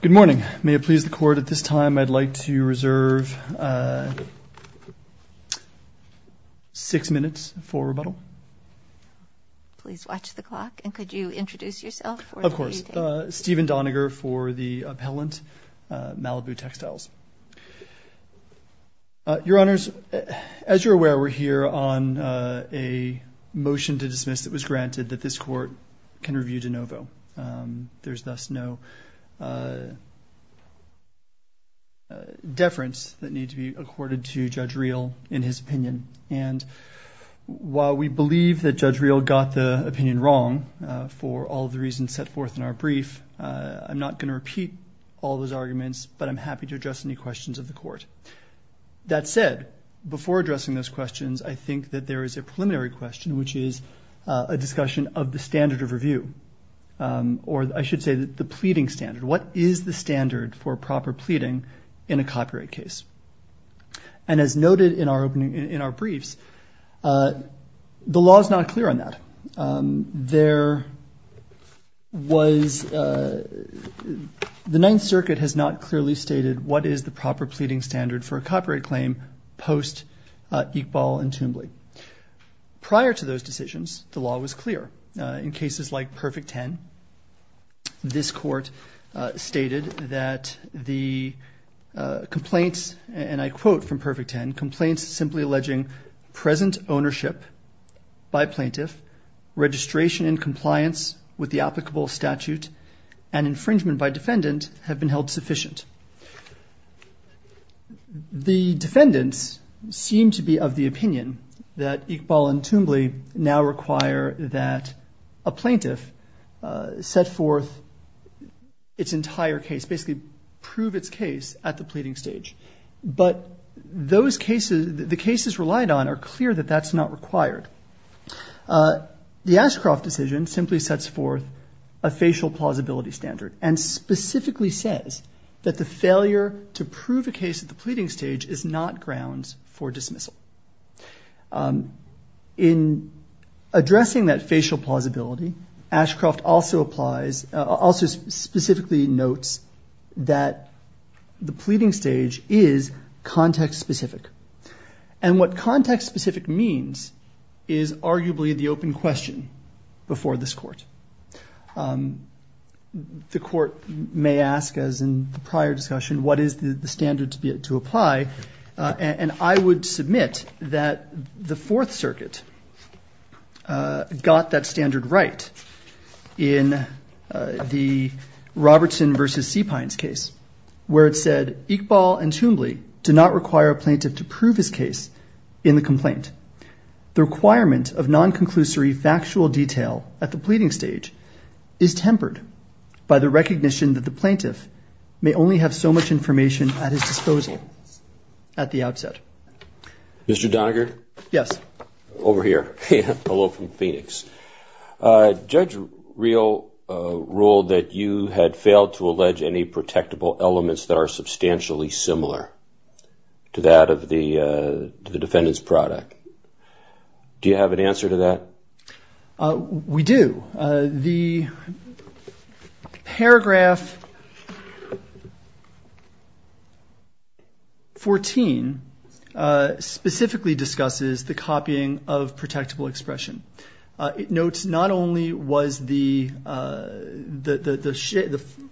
Good morning. May it please the Court, at this time I'd like to reserve six minutes for rebuttal. Please watch the clock, and could you introduce yourself? Of course. Stephen Doniger for the appellant, Malibu Textiles. Your Honors, as you're aware, we're here on a motion to dismiss that was granted that this Court can review de novo. There's thus no deference that needs to be accorded to Judge Reel in his opinion. And while we believe that Judge Reel got the opinion wrong for all the reasons set forth in our brief, I'm not going to repeat all those arguments, but I'm happy to address any questions of the Court. That said, before addressing those questions, I think that there is a preliminary question, which is a discussion of the standard of review, or I should say the pleading standard. What is the standard for proper pleading in a copyright case? And as noted in our briefs, the law is not clear on that. There was – the Ninth Circuit has not clearly stated what is the proper pleading standard for a copyright claim post-Iqbal and Toombley. Prior to those decisions, the law was clear. In cases like Perfect Ten, this Court stated that the complaints, and I quote from Perfect Ten, complaints simply alleging present ownership by plaintiff, registration in compliance with the applicable statute, and infringement by defendant have been held sufficient. The defendants seem to be of the opinion that Iqbal and Toombley now require that a plaintiff set forth its entire case, basically prove its case at the pleading stage. But those cases – the cases relied on are clear that that's not required. The Ashcroft decision simply sets forth a facial plausibility standard and specifically says that the failure to prove a case at the pleading stage is not grounds for dismissal. In addressing that facial plausibility, Ashcroft also applies – also specifically notes that the pleading stage is context-specific. And what context-specific means is arguably the open question before this Court. The Court may ask, as in the prior discussion, what is the standard to apply? And I would submit that the Fourth Circuit got that standard right in the Robertson v. Seepines case, where it said Iqbal and Toombley do not require a plaintiff to prove his case in the complaint. The requirement of non-conclusory factual detail at the pleading stage is tempered by the recognition that the plaintiff may only have so much information at his disposal at the outset. Mr. Doniger? Yes. Over here. Hello from Phoenix. Judge Reel ruled that you had failed to allege any protectable elements that are substantially similar to that of the defendant's product. Do you have an answer to that? We do. The paragraph 14 specifically discusses the copying of protectable expression. It notes not only was the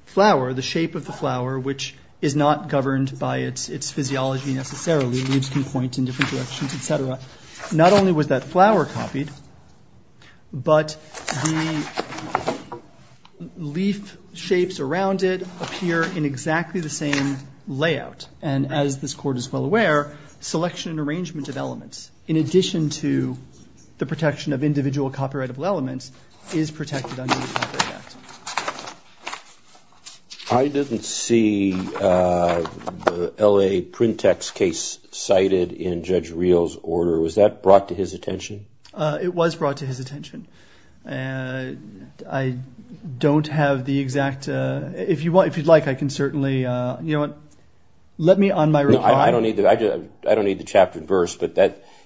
flower, the shape of the flower, which is not governed by its physiology necessarily – leaves can point in different directions, etc. Not only was that flower copied, but the leaf shapes around it appear in exactly the same layout. And as this Court is well aware, selection and arrangement of elements, in addition to the protection of individual copyrightable elements, is protected under the Copyright Act. I didn't see the L.A. Printex case cited in Judge Reel's order. Was that brought to his attention? It was brought to his attention. I don't have the exact – if you'd like, I can certainly – you know what, let me on my reply. I don't need the chapter and verse, but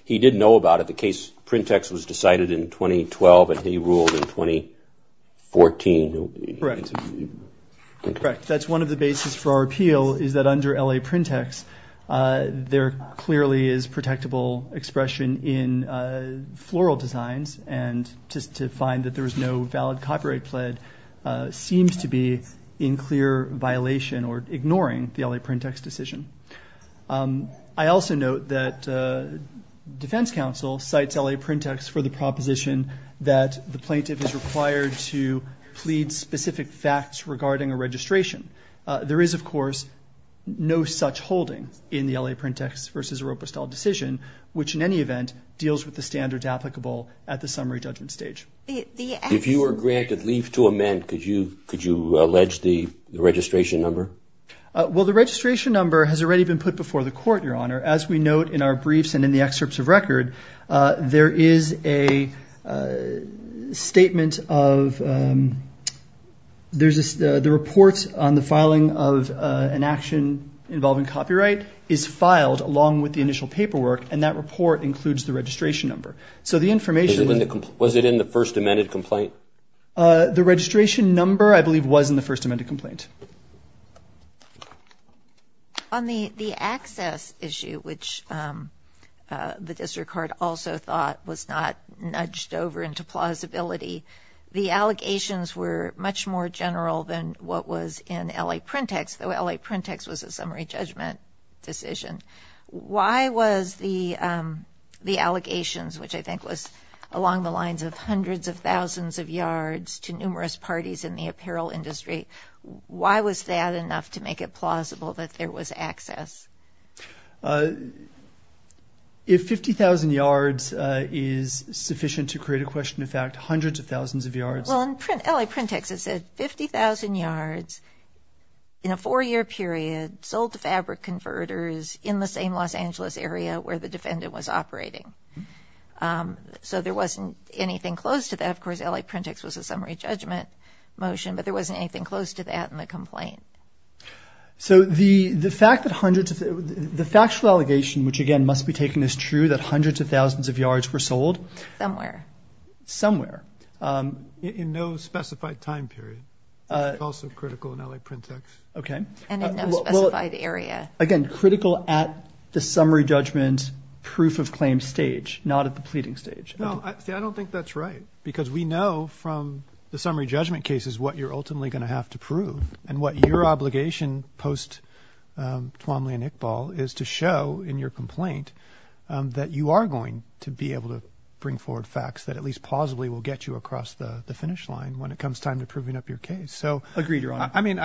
he did know about it. The case Printex was decided in 2012, and he ruled in 2014. Correct. That's one of the basis for our appeal, is that under L.A. Printex, there clearly is protectable expression in floral designs, and just to find that there is no valid copyright pled seems to be in clear violation or ignoring the L.A. Printex decision. I also note that defense counsel cites L.A. Printex for the proposition that the plaintiff is required to plead specific facts regarding a registration. There is, of course, no such holding in the L.A. Printex v. Oropestal decision, which in any event deals with the standards applicable at the summary judgment stage. If you were granted leave to amend, could you allege the registration number? Well, the registration number has already been put before the court, Your Honor. As we note in our briefs and in the excerpts of record, there is a statement of – the report on the filing of an action involving copyright is filed along with the initial paperwork, and that report includes the registration number. So the information – Was it in the first amended complaint? The registration number, I believe, was in the first amended complaint. On the access issue, which the district court also thought was not nudged over into plausibility, the allegations were much more general than what was in L.A. Printex, though L.A. Printex was a summary judgment decision. Why was the allegations, which I think was along the lines of hundreds of thousands of yards to numerous parties in the apparel industry, why was that enough to make it plausible that there was access? If 50,000 yards is sufficient to create a question of fact, hundreds of thousands of yards – Well, in L.A. Printex, it said 50,000 yards in a four-year period, sold to fabric converters in the same Los Angeles area where the defendant was operating. So there wasn't anything close to that. Of course, L.A. Printex was a summary judgment motion, but there wasn't anything close to that in the complaint. So the fact that hundreds of – the factual allegation, which, again, must be taken as true, that hundreds of thousands of yards were sold – Somewhere. Somewhere. In no specified time period, which is also critical in L.A. Printex. Okay. And in no specified area. Again, critical at the summary judgment proof-of-claim stage, not at the pleading stage. See, I don't think that's right, because we know from the summary judgment cases what you're ultimately going to have to prove, and what your obligation post-Tuamli and Iqbal is to show in your complaint that you are going to be able to bring forward facts that at least plausibly will get you across the finish line when it comes time to proving up your case. Agreed, Your Honor. I mean,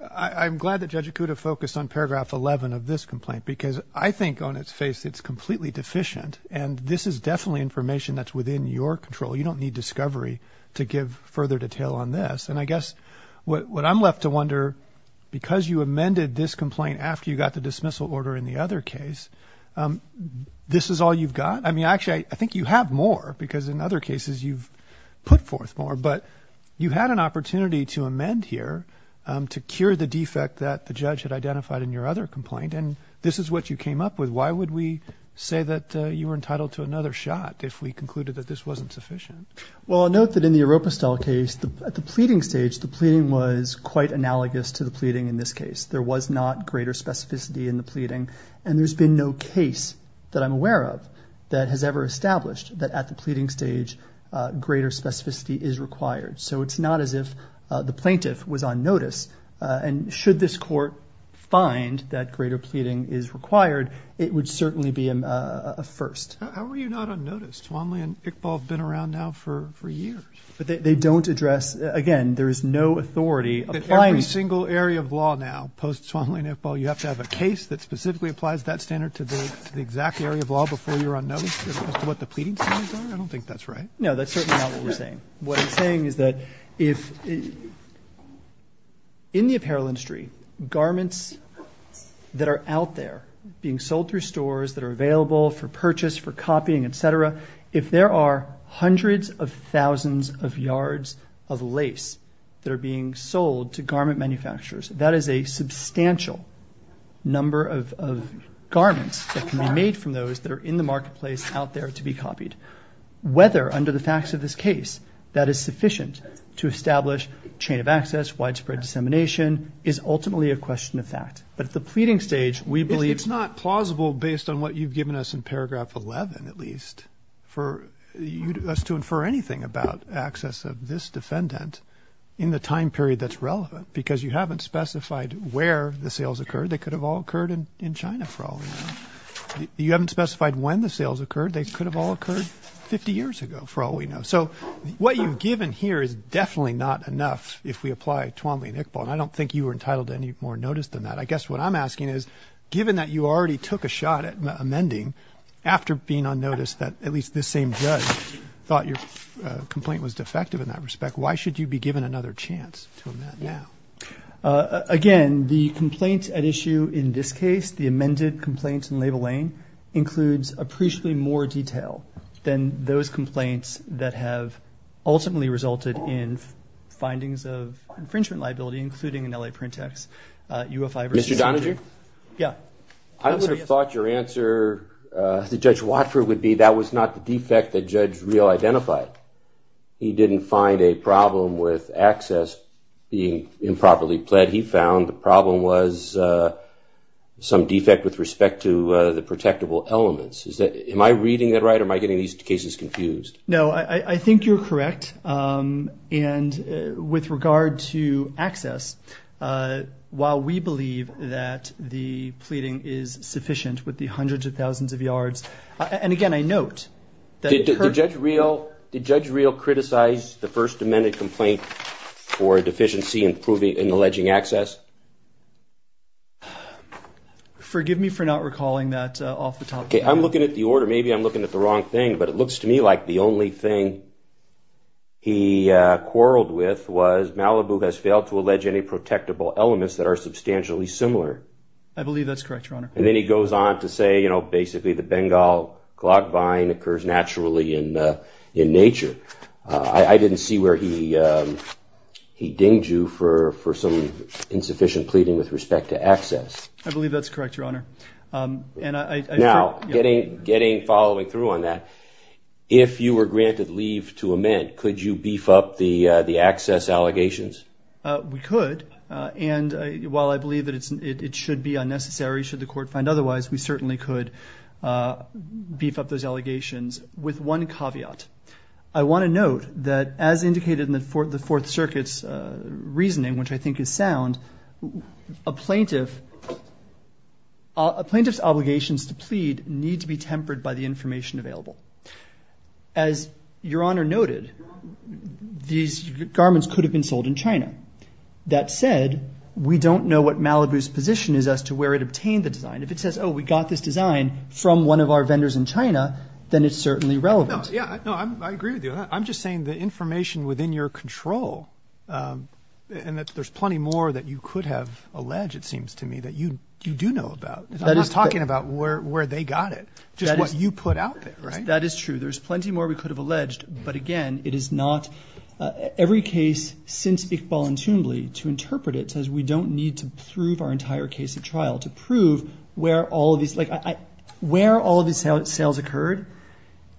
I'm glad that Judge Acuda focused on paragraph 11 of this complaint, because I think on its face it's completely deficient, and this is definitely information that's within your control. You don't need discovery to give further detail on this. And I guess what I'm left to wonder, because you amended this complaint after you got the dismissal order in the other case, this is all you've got? I mean, actually, I think you have more, because in other cases you've put forth more, but you had an opportunity to amend here to cure the defect that the judge had identified in your other complaint, and this is what you came up with. Why would we say that you were entitled to another shot if we concluded that this wasn't sufficient? Well, I'll note that in the Oropistal case, at the pleading stage the pleading was quite analogous to the pleading in this case. There was not greater specificity in the pleading, and there's been no case that I'm aware of that has ever established that at the pleading stage greater specificity is required. So it's not as if the plaintiff was on notice, and should this court find that greater pleading is required, it would certainly be a first. How were you not on notice? Swanlee and Iqbal have been around now for years. They don't address, again, there is no authority applying. Every single area of law now, post-Swanlee and Iqbal, as opposed to what the pleading standards are? I don't think that's right. No, that's certainly not what we're saying. What I'm saying is that if in the apparel industry, garments that are out there being sold through stores that are available for purchase, for copying, et cetera, if there are hundreds of thousands of yards of lace that are being sold to garment manufacturers, that is a substantial number of garments that can be made from those that are in the marketplace out there to be copied. Whether, under the facts of this case, that is sufficient to establish chain of access, widespread dissemination, is ultimately a question of fact. But at the pleading stage, we believe – It's not plausible based on what you've given us in paragraph 11, at least, for us to infer anything about access of this defendant in the time period that's relevant because you haven't specified where the sales occurred. They could have all occurred in China, for all we know. You haven't specified when the sales occurred. They could have all occurred 50 years ago, for all we know. So what you've given here is definitely not enough if we apply Swanlee and Iqbal, and I don't think you were entitled to any more notice than that. I guess what I'm asking is, given that you already took a shot at amending after being on notice that at least this same judge thought your complaint was defective in that respect, why should you be given another chance to amend now? Again, the complaint at issue in this case, the amended complaint in label A, includes appreciably more detail than those complaints that have ultimately resulted in findings of infringement liability, including an L.A. print text. Mr. Donaghy? Yeah. I would have thought your answer to Judge Watford would be that was not the defect that Judge Reel identified. He didn't find a problem with access being improperly pled. He found the problem was some defect with respect to the protectable elements. Am I reading that right, or am I getting these cases confused? No. I think you're correct. And with regard to access, while we believe that the pleading is sufficient with the hundreds of thousands of yards, and again, I note that the court Did Judge Reel criticize the first amended complaint for a deficiency in alleging access? Forgive me for not recalling that off the top of my head. Okay. I'm looking at the order. Maybe I'm looking at the wrong thing, but it looks to me like the only thing he quarreled with was Malibu has failed to allege any protectable elements that are substantially similar. I believe that's correct, Your Honor. And then he goes on to say, you know, clogged vine occurs naturally in nature. I didn't see where he dinged you for some insufficient pleading with respect to access. I believe that's correct, Your Honor. Now, following through on that, if you were granted leave to amend, could you beef up the access allegations? We could, and while I believe that it should be unnecessary, should the court find otherwise, we certainly could beef up those allegations with one caveat. I want to note that as indicated in the Fourth Circuit's reasoning, which I think is sound, a plaintiff's obligations to plead need to be tempered by the information available. As Your Honor noted, these garments could have been sold in China. That said, we don't know what Malibu's position is as to where it obtained the design. If it says, oh, we got this design from one of our vendors in China, then it's certainly relevant. No, I agree with you. I'm just saying the information within your control, and that there's plenty more that you could have alleged, it seems to me, that you do know about. I'm not talking about where they got it, just what you put out there. That is true. There's plenty more we could have alleged, but, again, it is not. Every case since Iqbal and Toombly, to interpret it, says we don't need to prove our entire case at trial. To prove where all of these sales occurred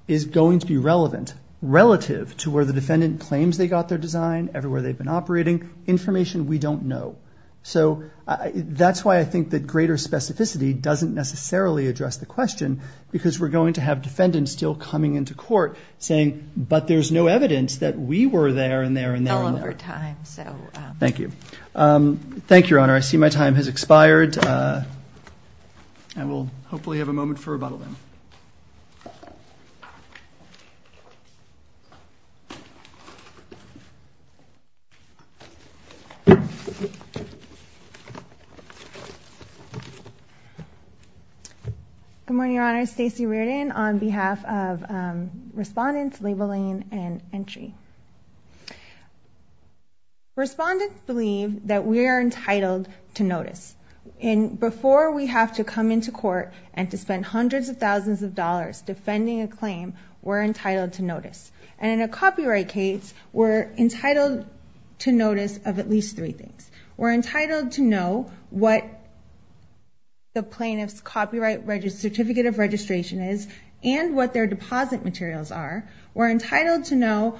is going to be relevant, relative to where the defendant claims they got their design, everywhere they've been operating, information we don't know. That's why I think that greater specificity doesn't necessarily address the question, because we're going to have defendants still coming into court saying, but there's no evidence that we were there and there and there. All over time, so. Thank you. Thank you, Your Honor. I see my time has expired, and we'll hopefully have a moment for rebuttal then. Good morning, Your Honor. Stacey Reardon on behalf of respondents, labeling, and entry. Respondents believe that we are entitled to notice. Before we have to come into court and to spend hundreds of thousands of dollars and in a copyright case, we're entitled to notice of at least three things. We're entitled to know what the plaintiff's copyright certificate of registration is and what their deposit materials are. We're entitled to know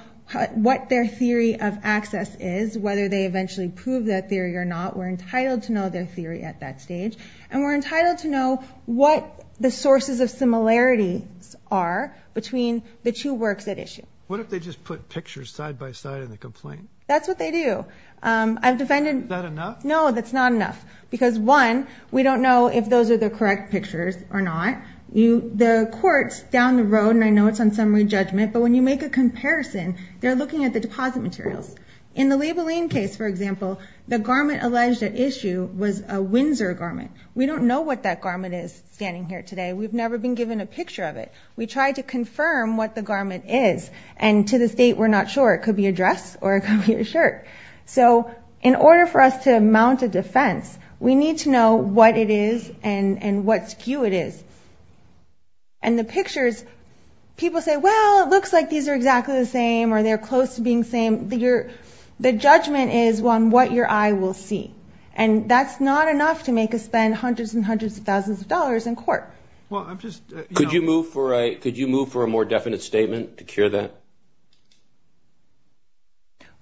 what their theory of access is, whether they eventually prove that theory or not. We're entitled to know their theory at that stage. And we're entitled to know what the sources of similarities are between the two works at issue. What if they just put pictures side by side in the complaint? That's what they do. Is that enough? No, that's not enough. Because, one, we don't know if those are the correct pictures or not. The courts down the road, and I know it's on summary judgment, but when you make a comparison, they're looking at the deposit materials. In the labeling case, for example, the garment alleged at issue was a Windsor garment. We don't know what that garment is standing here today. We've never been given a picture of it. We try to confirm what the garment is. And to this date, we're not sure. It could be a dress or it could be a shirt. So in order for us to mount a defense, we need to know what it is and what skew it is. And the pictures, people say, well, it looks like these are exactly the same or they're close to being the same. The judgment is on what your eye will see. And that's not enough to make us spend hundreds and hundreds of thousands of dollars in court. Could you move for a more definite statement to cure that?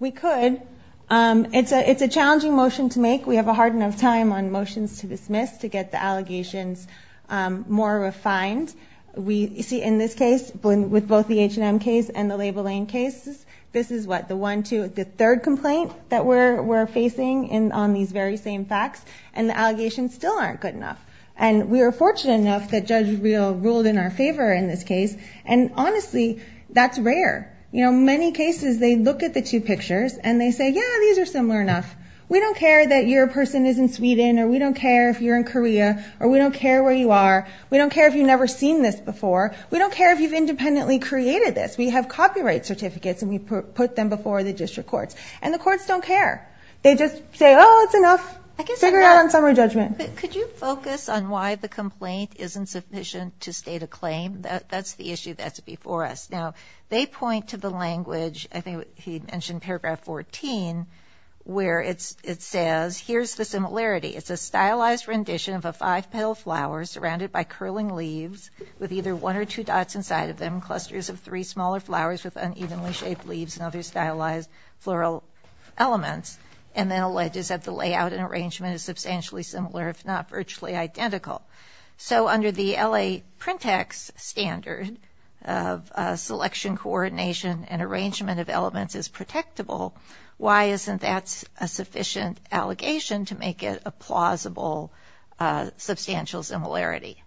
We could. It's a challenging motion to make. We have a hard enough time on motions to dismiss to get the allegations more refined. You see, in this case, with both the H&M case and the labeling cases, this is what, the one, two, the third complaint that we're facing on these very same facts, and the allegations still aren't good enough. And we are fortunate enough that Judge Real ruled in our favor in this case. And honestly, that's rare. You know, many cases, they look at the two pictures and they say, yeah, these are similar enough. We don't care that your person is in Sweden or we don't care if you're in Korea or we don't care where you are. We don't care if you've never seen this before. We don't care if you've independently created this. We have copyright certificates and we put them before the district courts. And the courts don't care. They just say, oh, it's enough. Figure it out on summary judgment. Could you focus on why the complaint isn't sufficient to state a claim? That's the issue that's before us. Now, they point to the language, I think he mentioned paragraph 14, where it says, here's the similarity. It's a stylized rendition of a five-petal flower surrounded by curling leaves with either one or two dots inside of them, clusters of three smaller flowers with unevenly shaped leaves and other stylized floral elements, and then alleges that the layout and arrangement is substantially similar, if not virtually identical. So under the LA Printex standard of selection, coordination, and arrangement of elements is protectable, why isn't that a sufficient allegation to make it a plausible substantial similarity?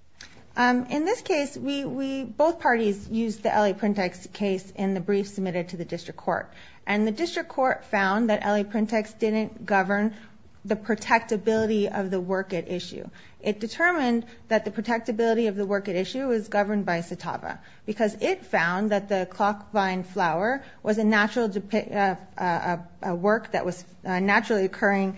In this case, both parties used the LA Printex case in the brief submitted to the district court. And the district court found that LA Printex didn't govern the protectability of the work at issue. It determined that the protectability of the work at issue was governed by CITAVA, because it found that the clock vine flower was a work that was a naturally occurring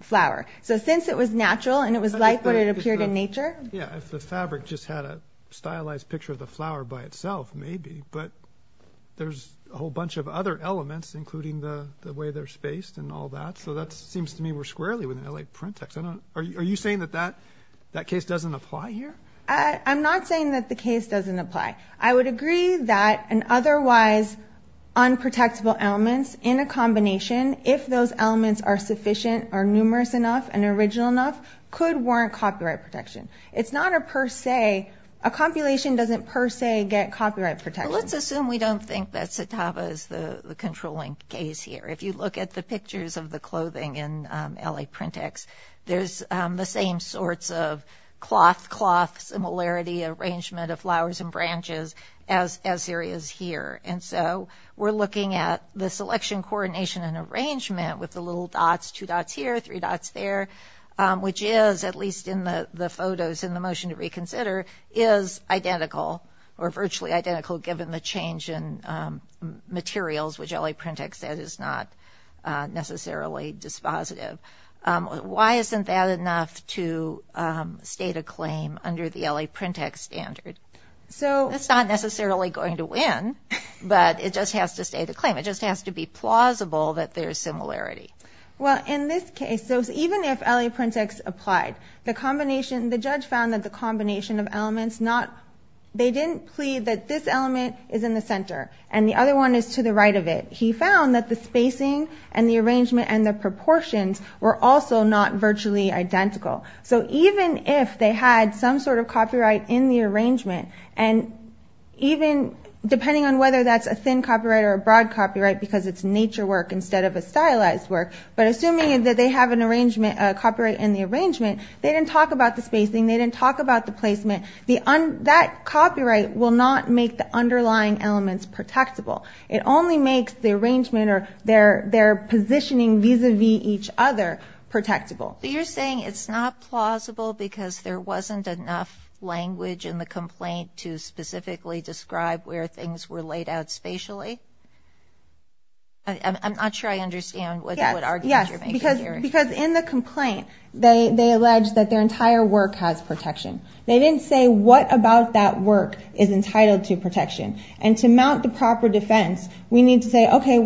flower. So since it was natural and it was like what it appeared in nature. Yeah, if the fabric just had a stylized picture of the flower by itself, maybe. But there's a whole bunch of other elements, including the way they're spaced and all that. So that seems to me we're squarely within LA Printex. Are you saying that that case doesn't apply here? I'm not saying that the case doesn't apply. I would agree that an otherwise unprotectable elements in a combination, if those elements are sufficient or numerous enough and original enough, could warrant copyright protection. It's not a per se, a compilation doesn't per se get copyright protection. Let's assume we don't think that CITAVA is the controlling case here. If you look at the pictures of the clothing in LA Printex, there's the same sorts of cloth, cloth similarity arrangement of flowers and branches as there is here. And so we're looking at the selection, coordination and arrangement with the little dots, two dots here, three dots there, which is, at least in the photos in the motion to reconsider, is identical or virtually identical given the change in materials, which LA Printex said is not necessarily dispositive. Why isn't that enough to state a claim under the LA Printex standard? It's not necessarily going to win, but it just has to state a claim. It just has to be plausible that there's similarity. Well, in this case, even if LA Printex applied, the combination, the judge found that the combination of elements not, they didn't plead that this element is in the center and the other one is to the right of it. He found that the spacing and the arrangement and the proportions were also not virtually identical. So even if they had some sort of copyright in the arrangement, and even depending on whether that's a thin copyright or a broad copyright, because it's nature work instead of a stylized work, but assuming that they have a copyright in the arrangement, they didn't talk about the spacing, they didn't talk about the placement. That copyright will not make the underlying elements protectable. It only makes the arrangement or their positioning vis-a-vis each other protectable. So you're saying it's not plausible because there wasn't enough language in the complaint to specifically describe where things were laid out spatially? I'm not sure I understand what argument you're making here. Yes, because in the complaint, they allege that their entire work has protection. They didn't say what about that work is entitled to protection. And to mount the proper defense, we need to say, okay,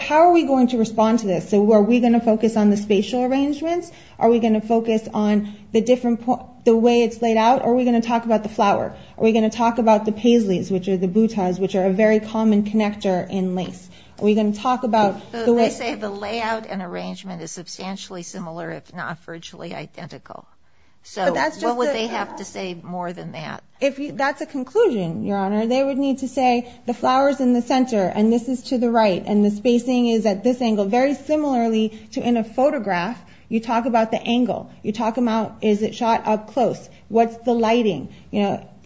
how are we going to respond to this? So are we going to focus on the spatial arrangements? Are we going to focus on the way it's laid out, or are we going to talk about the flower? Are we going to talk about the paisleys, which are the butas, which are a very common connector in lace? Are we going to talk about the way— They say the layout and arrangement is substantially similar, if not virtually identical. So what would they have to say more than that? That's a conclusion, Your Honor. They would need to say the flower's in the center, and this is to the right, and the spacing is at this angle. So very similarly to in a photograph, you talk about the angle. You talk about, is it shot up close? What's the lighting?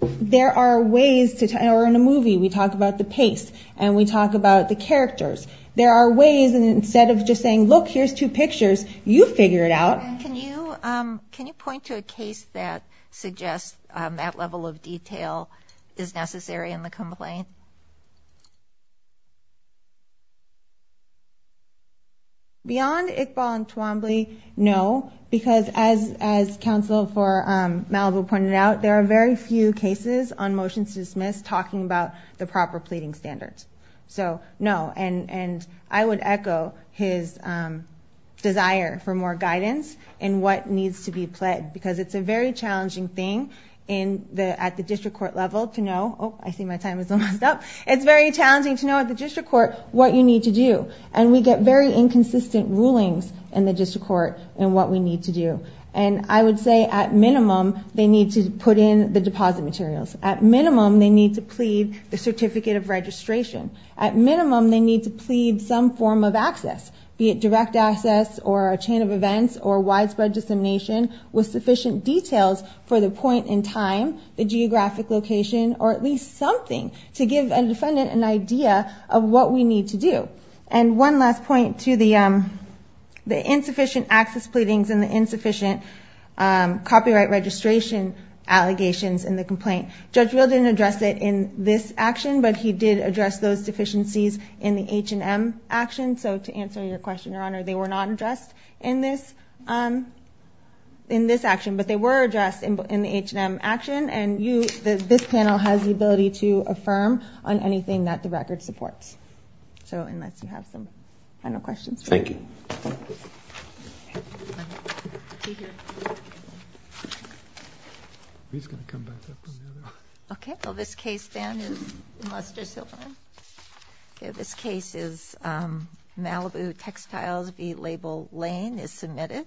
There are ways to—or in a movie, we talk about the pace, and we talk about the characters. There are ways, and instead of just saying, look, here's two pictures, you figure it out. Can you point to a case that suggests that level of detail is necessary in the complaint? Beyond Iqbal and Twombly, no, because as counsel for Malibu pointed out, there are very few cases on motions to dismiss talking about the proper pleading standards. So no, and I would echo his desire for more guidance in what needs to be pledged, because it's a very challenging thing at the district court level to know— Oh, I see my time is almost up. It's very challenging to know at the district court what you need to do, and we get very inconsistent rulings in the district court in what we need to do. And I would say at minimum, they need to put in the deposit materials. At minimum, they need to plead the certificate of registration. At minimum, they need to plead some form of access, be it direct access or a chain of events or widespread dissemination with sufficient details for the point in time, the geographic location, or at least something to give a defendant an idea of what we need to do. And one last point to the insufficient access pleadings and the insufficient copyright registration allegations in the complaint. Judge Real didn't address it in this action, but he did address those deficiencies in the H&M action. So to answer your question, Your Honor, they were not addressed in this action, but they were addressed in the H&M action, and this panel has the ability to affirm on anything that the record supports. So unless you have some final questions. Thank you.